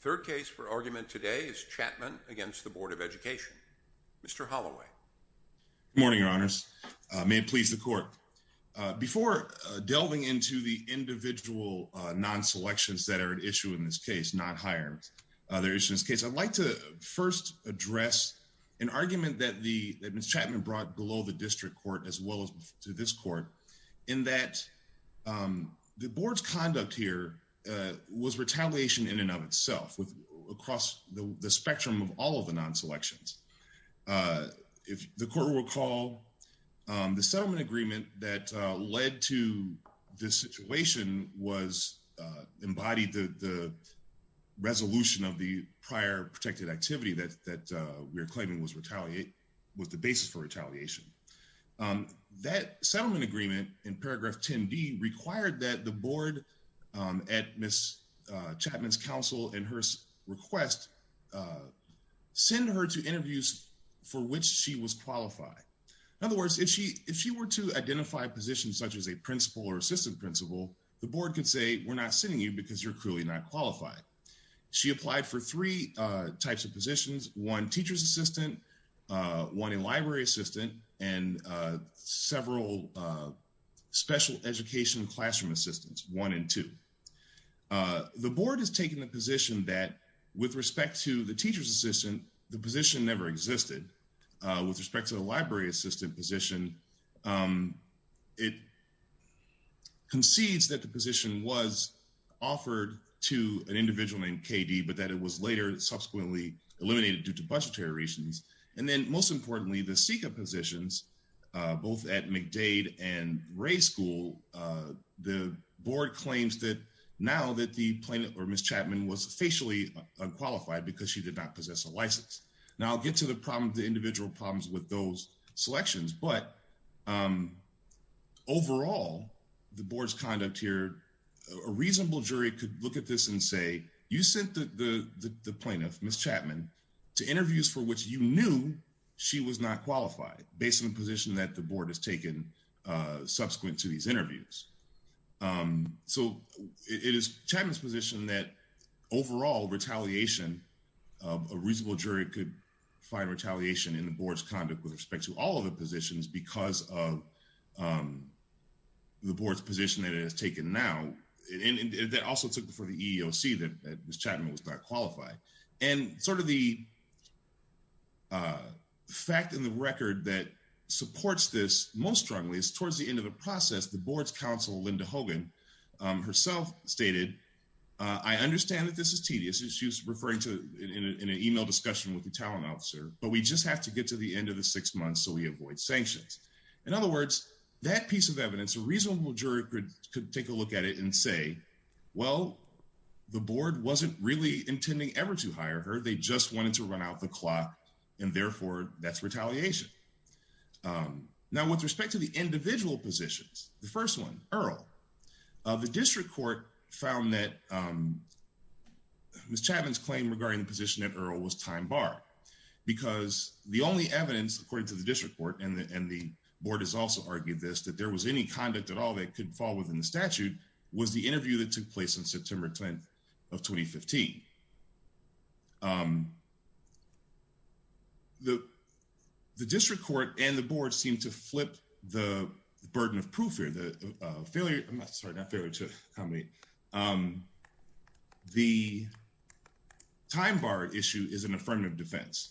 Third case for argument today is Chatman against the Board of Education. Mr. Holloway. Good morning, your honors. May it please the court. Before delving into the individual non-selections that are at issue in this case, not higher. I'd like to first address an argument that Ms. Chatman brought below the district court as well as to this court in that the board's conduct here was retaliation in and of itself across the spectrum of all of the non-selections. If the court will recall, the settlement agreement that led to this situation was embodied the resolution of the prior protected activity that we're claiming was retaliate with the basis for retaliation. That settlement agreement in paragraph 10 D required that the board at Ms. Chatman's counsel and her request send her to interviews for which she was qualified. In other words, if she were to identify positions such as a principal or assistant principal, the board could say, we're not sending you because you're clearly not qualified. She applied for three types of positions, one teacher's assistant, one in library assistant, and several special education classroom assistants, one and two. The board has taken the position that with respect to the teacher's assistant, the position never existed. With respect to the library assistant position, it concedes that the position was offered to an individual named KD, but that it was later subsequently eliminated due to budgetary reasons. And then most importantly, the SICA positions, both at McDade and Ray School, the board claims that now that the plaintiff or Ms. Chatman was facially unqualified because she did not possess a license. Now I'll get to the problem, the individual problems with those selections, but overall, the board's conduct here, a reasonable jury could look at this and say, you sent the plaintiff, Ms. Chatman, to interviews for which you knew she was not qualified based on the position that the board has taken subsequent to these A reasonable jury could find retaliation in the board's conduct with respect to all of the positions because of the board's position that it has taken now. And that also took for the EEOC that Ms. Chatman was not qualified. And sort of the fact in the record that supports this most strongly is towards the end of the process, the board's counsel, Linda Hogan, herself stated, I understand that this is tedious, as she was referring to in an email discussion with the talent officer, but we just have to get to the end of the six months so we avoid sanctions. In other words, that piece of evidence, a reasonable jury could take a look at it and say, well, the board wasn't really intending ever to hire her, they just wanted to run out the clock. And therefore, that's retaliation. Now, with respect to the individual positions, the first one, Earl, the district court found that Ms. Chatman's claim regarding the position that Earl was time barred, because the only evidence according to the district court, and the board has also argued this, that there was any conduct at all that could fall within the statute was the interview that took place on September 10th of 2015. The district court and the board seem to flip the burden of proof here, the failure, I'm sorry, not failure to accommodate. The time bar issue is an affirmative defense.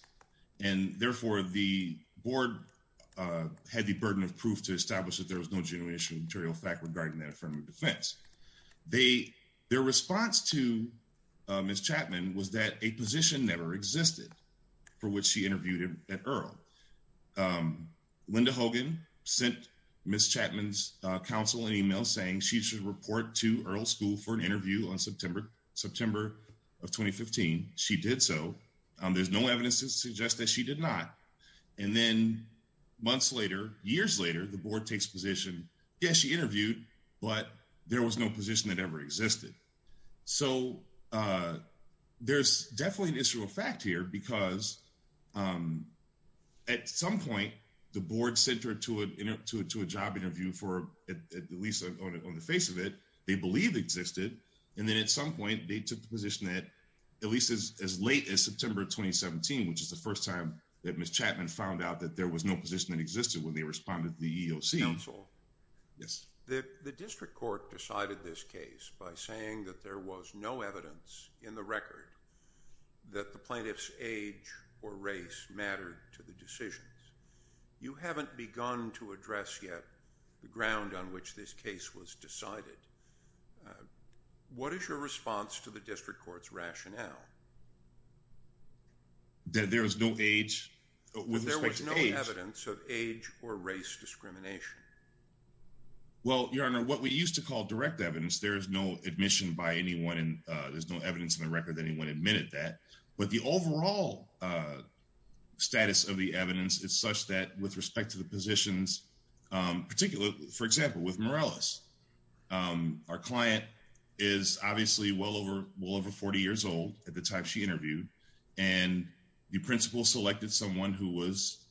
And therefore, the board had the burden of proof to establish that there was no genuine regarding that affirmative defense. Their response to Ms. Chatman was that a position never existed for which she interviewed at Earl. Linda Hogan sent Ms. Chatman's counsel an email saying she should report to Earl School for an interview on September of 2015. She did so. There's no evidence to suggest that she did not. And then months later, years later, the board takes position. Yes, she interviewed, but there was no position that ever existed. So there's definitely an issue of fact here, because at some point, the board sent her to a job interview for at least on the face of it, they believe existed. And then at some point, they took the position that at least as late as September 2017, which is the first time that Ms. Chatman found out that there was no position that existed when they responded to the EEOC. Counsel. Yes. The district court decided this case by saying that there was no evidence in the record that the plaintiff's age or race mattered to the decisions. You haven't begun to address yet the ground on which this case was decided. What is your response to the district court's rationale? That there is no age with respect to age or race discrimination? Well, your honor, what we used to call direct evidence, there is no admission by anyone. And there's no evidence in the record that anyone admitted that. But the overall status of the evidence is such that with respect to the positions, particularly, for example, with Morales, our client is obviously well over well over 40 years old at the time she interviewed. And the principal selected someone who was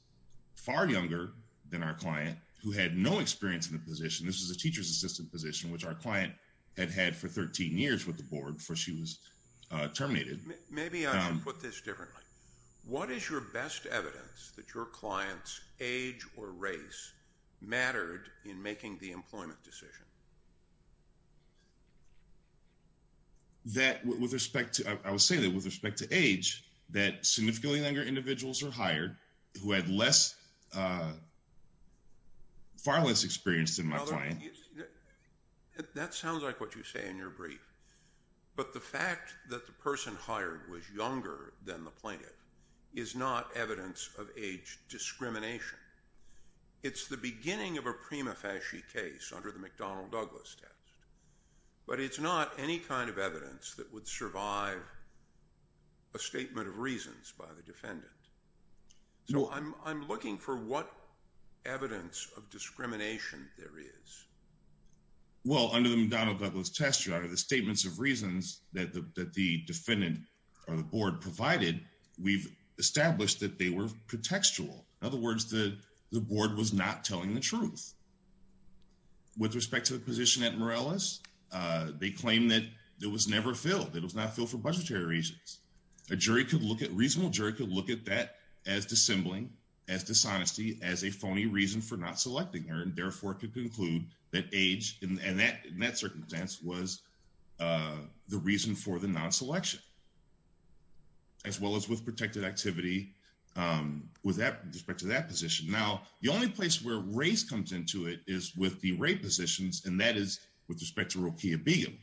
far younger than our client who had no experience in the position. This is a teacher's assistant position, which our client had had for 13 years with the board before she was terminated. Maybe I should put this differently. What is your best evidence that your client's age or race mattered in making the employment decision? That with respect to, I would say that with respect to age, that significantly younger individuals are hired who had less, far less experience than my client. That sounds like what you say in your brief. But the fact that the person hired was younger than the plaintiff is not evidence of age discrimination. It's the beginning of a prima facie case under the McDonnell Douglas test. But it's not any kind of evidence that would survive a statement of reasons by the defendant. So I'm looking for what evidence of discrimination there is. Well, under the McDonnell Douglas test, your honor, the statements of reasons that the defendant or the board provided, we've established that they were pretextual. In other words, the board was not telling the truth. With respect to the position at Morales, they claim that it was never filled. It was not filled for budgetary reasons. A jury could look at, a reasonable jury could look at that as dissembling, as dishonesty, as a phony reason for not selecting her and therefore could conclude that age in that circumstance was the reason for the non-selection. As well as with protected activity with that, with respect to that position. Now, the only place where race comes into it is with the rate positions and that is with respect to Rokia Begum.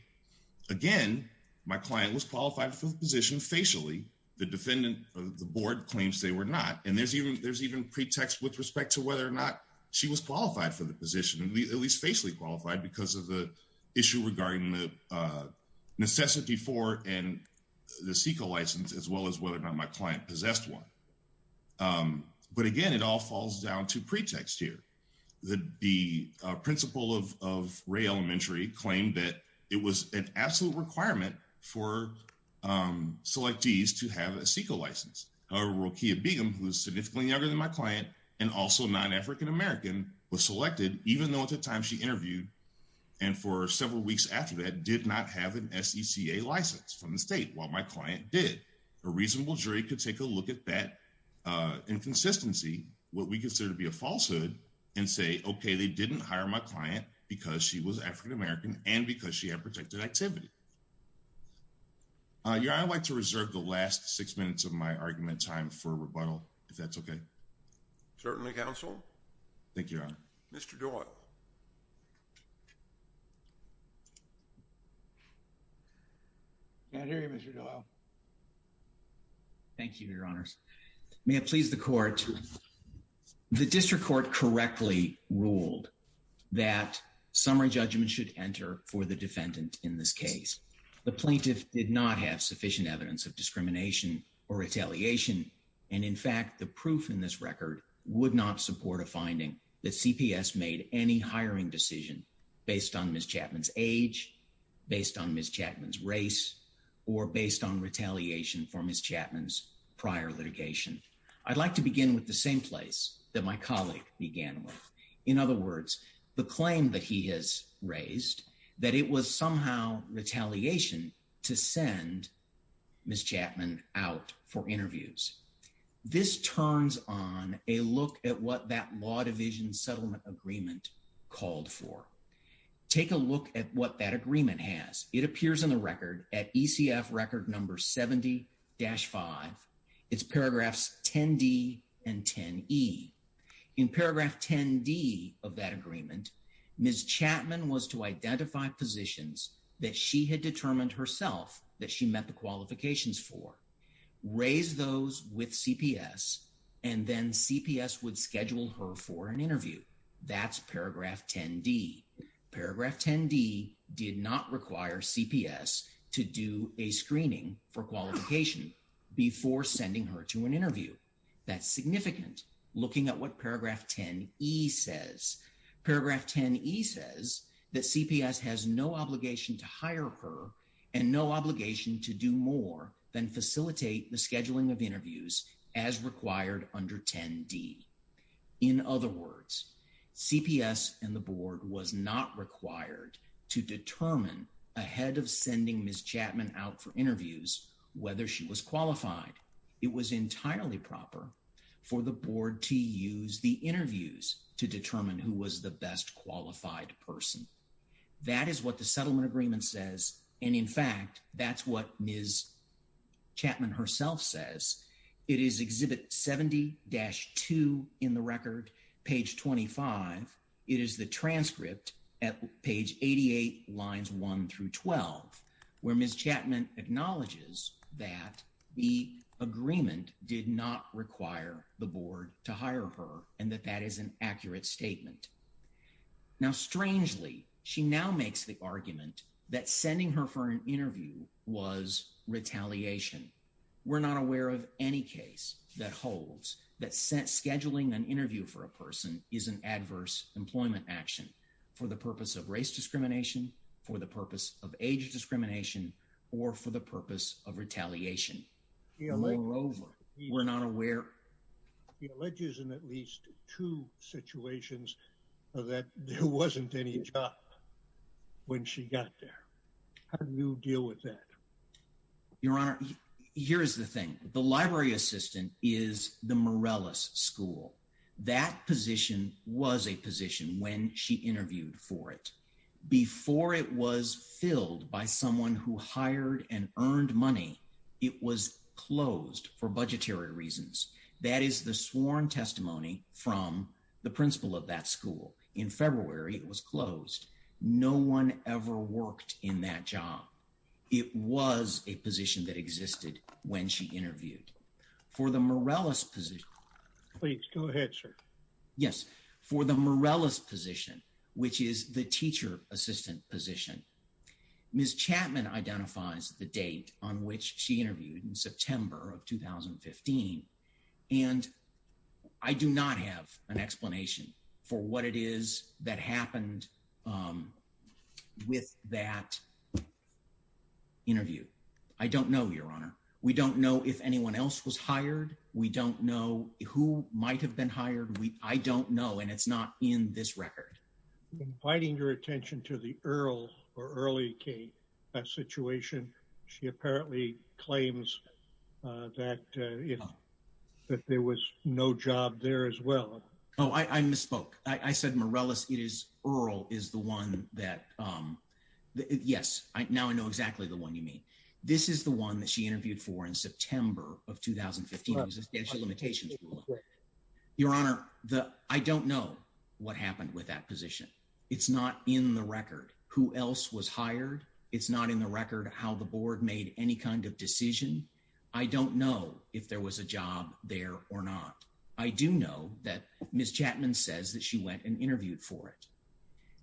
Again, my client was qualified for the position facially. The defendant, the board claims they were not. And there's even pretext with respect to whether or not she was qualified for the position, at least facially qualified because of the issue regarding the necessity for and the CEQA license, as well as whether or not my client possessed one. But again, it all falls down to pretext here. The principal of Ray Elementary claimed that it was an absolute requirement for selectees to have a CEQA license. However, Rokia Begum, who is significantly younger than my client and also non-African American, was selected even though at the time she interviewed and for several weeks after that did not have an SECA license from the state, while my client did. A reasonable jury could take a look at that inconsistency, what we consider to be a falsehood, and say, okay, they didn't hire my client because she was African American and because she had protected activity. Your Honor, I'd like to reserve the last six minutes of my argument time for rebuttal, if that's okay. Certainly, Counsel. Thank you, Your Honor. Mr. Doyle. Can't hear you, Mr. Doyle. Thank you, Your Honors. May it please the Court, the District Court correctly ruled that summary judgment should enter for the defendant in this case. The plaintiff did not have sufficient evidence of discrimination or retaliation, and in fact, the proof in this record would not support a finding that CPS made any hiring decision based on Ms. Chapman's age, based on Ms. Chapman's race, or based on retaliation for Ms. Chapman's prior litigation. I'd like to begin with the same place that my colleague began with. In other words, the claim that he has raised that it was somehow retaliation to send Ms. Chapman out for interviews. This turns on a look at what that Law Division settlement agreement called for. Take a look at what that agreement has. It appears in the record at ECF Record Number 70-5. It's paragraphs 10D and 10E. In paragraph 10D of that agreement, Ms. Chapman was to identify positions that she had determined herself that she met the qualifications for. Raise those with CPS, and then CPS would schedule her for an interview. That's paragraph 10D. Paragraph 10D did not require CPS to do a screening for qualification before sending her to an interview. That's significant. Looking at what paragraph 10E says. Paragraph 10E says that CPS has no obligation to hire her and no obligation to do more than facilitate the scheduling of interviews as required under 10D. In other words, CPS and the board was not required to determine ahead of sending Ms. Chapman out for interviews whether she was qualified. It was entirely proper for the board to use the interviews to determine who was the best qualified person. That is what the settlement agreement says, and in fact, that's what Ms. Chapman herself says. It is Exhibit 70-2 in the record, page 25. It is the transcript at page 88, lines 1 through 12, where Ms. Chapman acknowledges that the agreement did not require the board to Now, strangely, she now makes the argument that sending her for an interview was retaliation. We're not aware of any case that holds that scheduling an interview for a person is an adverse employment action for the purpose of race discrimination, for the purpose of age discrimination, or for the purpose of retaliation. Moreover, we're not aware. He alleges in at least two situations that there wasn't any job when she got there. How do you deal with that? Your Honor, here's the thing. The library assistant is the Morales School. That position was a position when she interviewed for it. Before it was filled by someone who hired and earned from the principal of that school. In February, it was closed. No one ever worked in that job. It was a position that existed when she interviewed. For the Morales position... Please, go ahead, sir. Yes. For the Morales position, which is the teacher assistant position, Ms. Chapman identifies the date on which she interviewed in September of 2015, and I do not have an explanation for what it is that happened with that interview. I don't know, Your Honor. We don't know if anyone else was hired. We don't know who might have been hired. I don't know, and it's not in this record. I'm inviting your attention to the Earl or Early Kate situation. She apparently claims that there was no job there as well. Oh, I misspoke. I said Morales. Earl is the one that... Yes, now I know exactly the one you mean. This is the one that she interviewed for in September of 2015. Existential limitations. Correct. Your Honor, I don't know what happened with that position. It's not in the record who else was hired. It's not in the record how the board made any kind of decision. I don't know if there was a job there or not. I do know that Ms. Chapman says that she went and interviewed for it.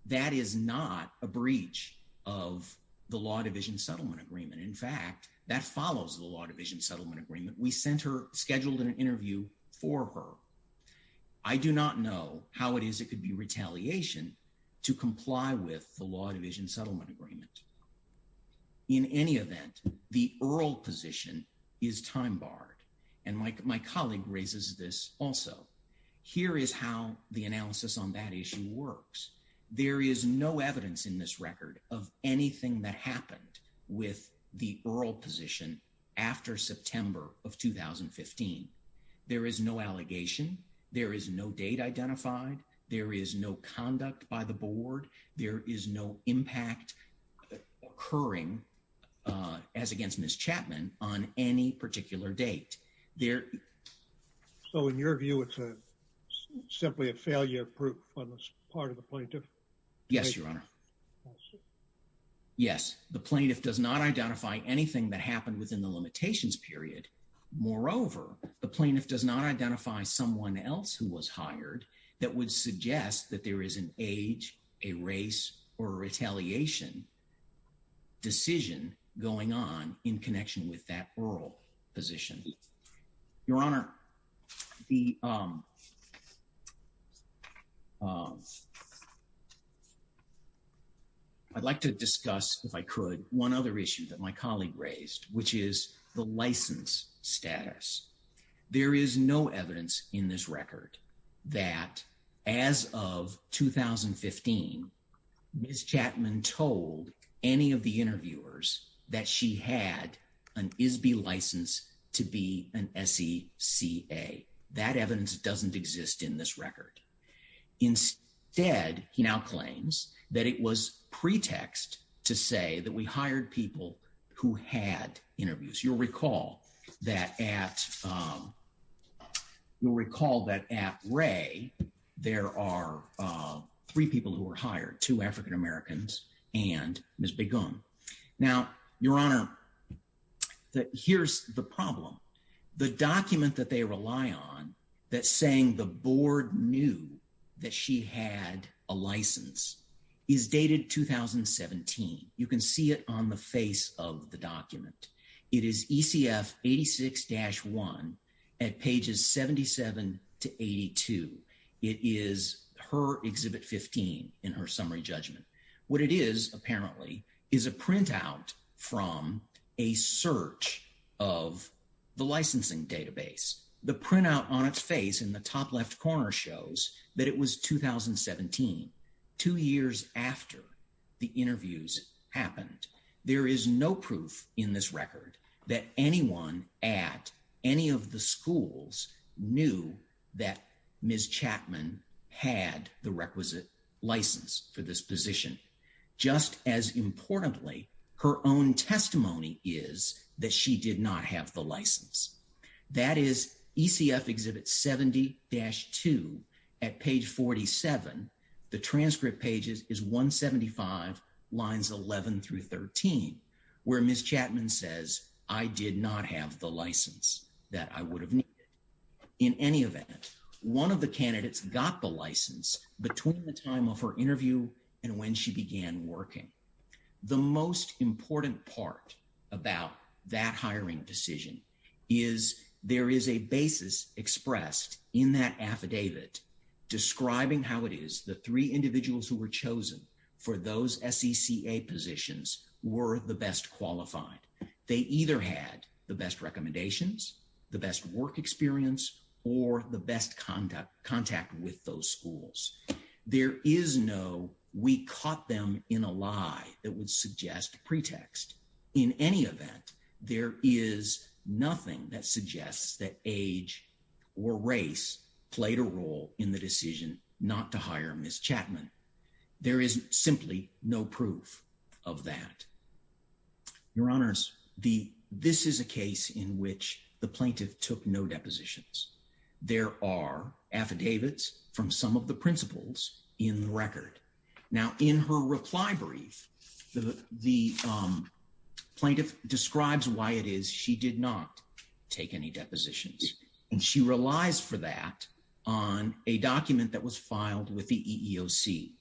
That is not a breach of the Law Division Settlement Agreement. In fact, that follows the Law Division Settlement Agreement. We sent her, scheduled an interview for her. I do not know how it is it could be retaliation to comply with the Law Division Settlement Agreement. In any event, the Earl position is time barred, and my colleague raises this also. Here is how the analysis on that issue works. There is no evidence in this record of anything that happened with the Earl position after September of 2015. There is no allegation. There is no date identified. There is no conduct by the board. There is no impact occurring, as against Ms. Chapman, on any particular date. So in your view, it's simply a failure proof on this part of the plaintiff? Yes, Your Honor. Yes, the plaintiff does not identify anything that happened within the limitations period. Moreover, the plaintiff does not identify someone else who was hired that would suggest that there is an age, a race, or a retaliation decision going on in connection with that Earl position. Your Honor, I'd like to discuss, if I could, one other issue that my colleague raised, which is the license status. There is no evidence in this record that, as of 2015, Ms. Chapman told any of the interviewers that she had an ISBI license to be an SECA. That evidence doesn't exist in this record. Instead, he now claims that it was pretext to say that we hired people who had interviews. You'll recall that at there are three people who were hired, two African Americans and Ms. Begum. Now, Your Honor, here's the problem. The document that they rely on that's saying the board knew that she had a license is dated 2017. You can see it on the face of the document. It is ECF 86-1 at pages 77 to 82. It is her Exhibit 15 in her summary judgment. What it is, apparently, is a printout from a search of the licensing database. The printout on its face in the top left corner shows that it was 2017, two years after the that anyone at any of the schools knew that Ms. Chapman had the requisite license for this position, just as, importantly, her own testimony is that she did not have the license. That is ECF Exhibit 70-2 at page 47. The transcript page is 175 lines 11 through 13, where Ms. Chapman says, I did not have the license that I would have needed. In any event, one of the candidates got the license between the time of her interview and when she began working. The most important part about that hiring decision is there is a basis expressed in that affidavit describing how it is the three individuals who were chosen for those SECA positions were the best qualified. They either had the best recommendations, the best work experience, or the best contact with those schools. There is no we caught them in a lie that would suggest pretext. In any event, there is nothing that suggests that age or race played a role in the decision not to hire Ms. Chapman. There is simply no proof of that. Your Honors, this is a case in which the plaintiff took no depositions. There are affidavits from some of the principals in the record. Now, in her reply brief, the plaintiff describes why it is she did not take any depositions, and she relies for that on a document that was filed with the EEOC.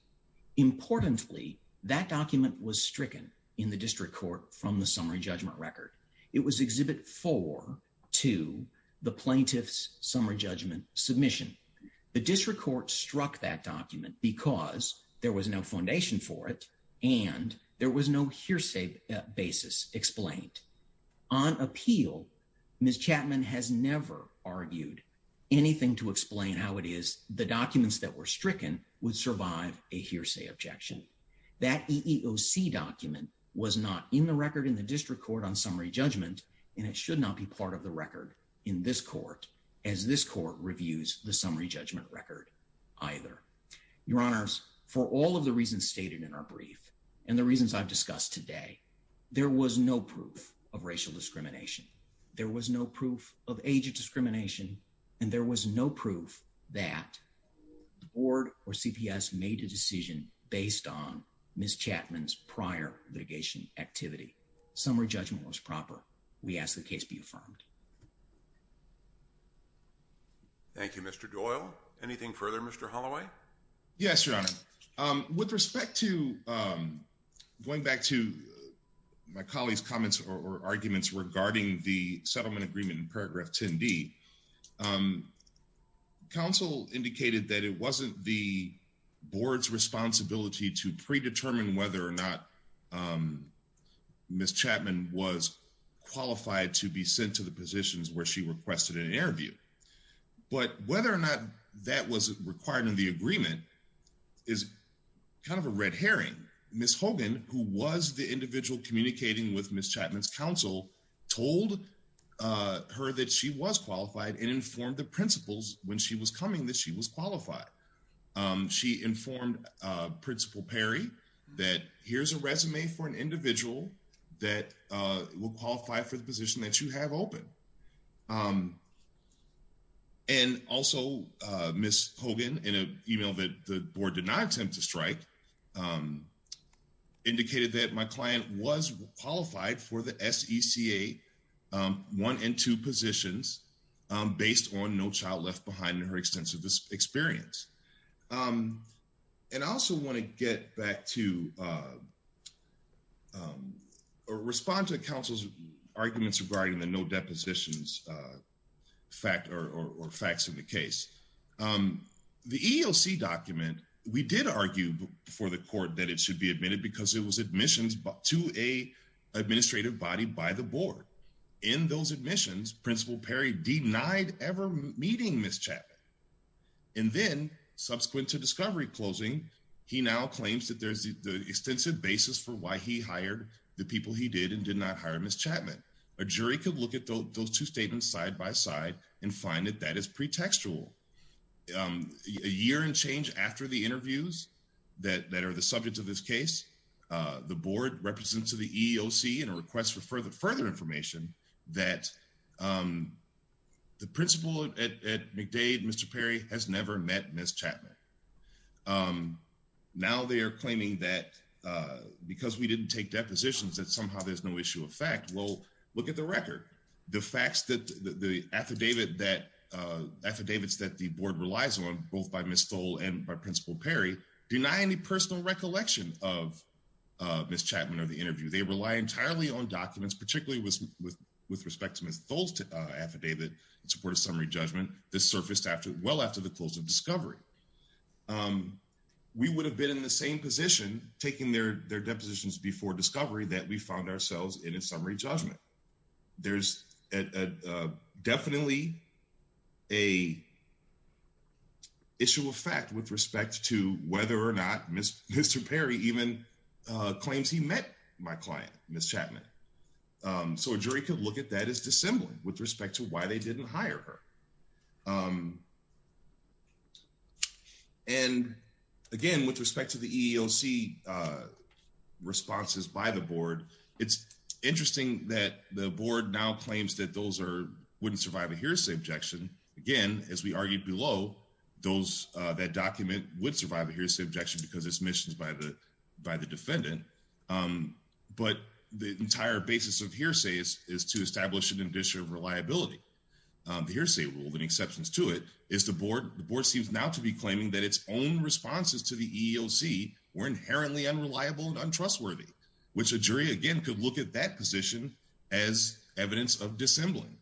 Importantly, that document was stricken in the district court from the summary judgment record. It was Exhibit 4 to the plaintiff's summary judgment submission. The district court struck that document because there was no foundation for it and there was no hearsay basis explained. On appeal, Ms. Chapman has never argued anything to the documents that were stricken would survive a hearsay objection. That EEOC document was not in the record in the district court on summary judgment, and it should not be part of the record in this court as this court reviews the summary judgment record either. Your Honors, for all of the reasons stated in our brief and the reasons I've discussed today, there was no proof of racial that the board or CPS made a decision based on Ms. Chapman's prior litigation activity. Summary judgment was proper. We ask the case be affirmed. Thank you, Mr. Doyle. Anything further, Mr. Holloway? Yes, Your Honor. With respect to going back to my colleague's comments or arguments regarding the settlement agreement in paragraph 10D, counsel indicated that it wasn't the board's responsibility to predetermine whether or not Ms. Chapman was qualified to be sent to the positions where she requested an interview. But whether or not that was required in the agreement is kind of a red herring. Ms. Hogan, who was the individual communicating with Ms. Chapman's counsel, told her that she was qualified and informed the principals when she was coming that she was qualified. She informed Principal Perry that here's a resume for an individual that will qualify for the position that you have open. And also, Ms. Hogan, in an email that the SECA one and two positions based on no child left behind in her extensive experience. And I also want to get back to, respond to counsel's arguments regarding the no depositions fact or facts in the case. The EEOC document, we did argue before the court that it should be admitted because it was to an administrative body by the board. In those admissions, Principal Perry denied ever meeting Ms. Chapman. And then subsequent to discovery closing, he now claims that there's the extensive basis for why he hired the people he did and did not hire Ms. Chapman. A jury could look at those two statements side by side and find that that is pretextual. A year and change after the interviews that are the subjects of this case, the board represents to the EEOC and a request for further information that the principal at McDade, Mr. Perry has never met Ms. Chapman. Now they are claiming that because we didn't take depositions that somehow there's no issue of fact. Well, look at the record. The facts that the affidavit that affidavits that the board relies both by Ms. Thole and by Principal Perry deny any personal recollection of Ms. Chapman or the interview. They rely entirely on documents, particularly with respect to Ms. Thole's affidavit in support of summary judgment that surfaced well after the close of discovery. We would have been in the same position taking their depositions before discovery that we found ourselves in a summary judgment. There's definitely a issue of fact with respect to whether or not Mr. Perry even claims he met my client, Ms. Chapman. So a jury could look at that as dissembling with respect to why they didn't hire her. And again, with respect to the EEOC responses by the board, it's interesting that the board now claims that those are wouldn't survive a hearsay objection. Again, as we argued below, those that document would survive a hearsay objection because it's missions by the defendant. But the entire basis of hearsay is to establish an initiative of reliability. The hearsay rule, the exception to it is the board. The board seems now to be claiming that its own responses to the EEOC were inherently unreliable and untrustworthy, which a jury again could look at that position as evidence of dissembling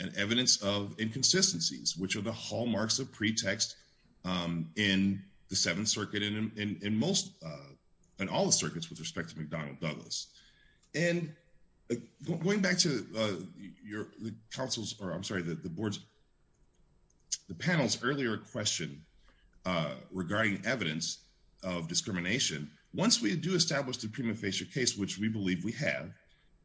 and evidence of inconsistencies, which are the hallmarks of pretext in the Seventh Circuit and in most and all the circuits with respect to McDonnell Douglas. And going back to the panel's earlier question regarding evidence of discrimination, once we do establish the prima facie case, which we believe we have,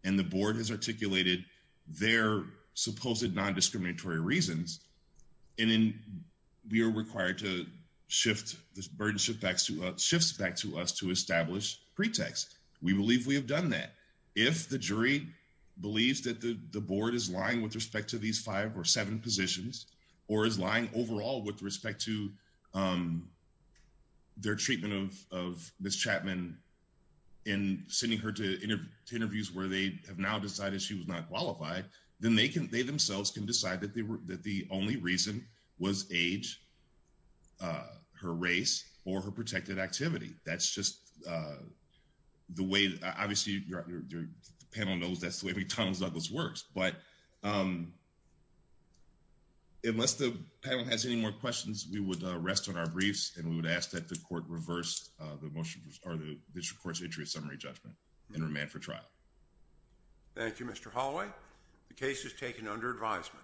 and the board has articulated their supposed non-discriminatory reasons, and then we are If the jury believes that the board is lying with respect to these five or seven positions, or is lying overall with respect to their treatment of Ms. Chapman in sending her to interviews where they have now decided she was not qualified, then they themselves can decide that the only reason was age, her race, or her protected activity. That's just the way, obviously, the panel knows that's the way McDonnell Douglas works, but unless the panel has any more questions, we would rest on our briefs and we would ask that the court reverse the motion or the district court's entry of summary judgment and remand for trial. Thank you, Mr. Holloway. The case is taken under advisement.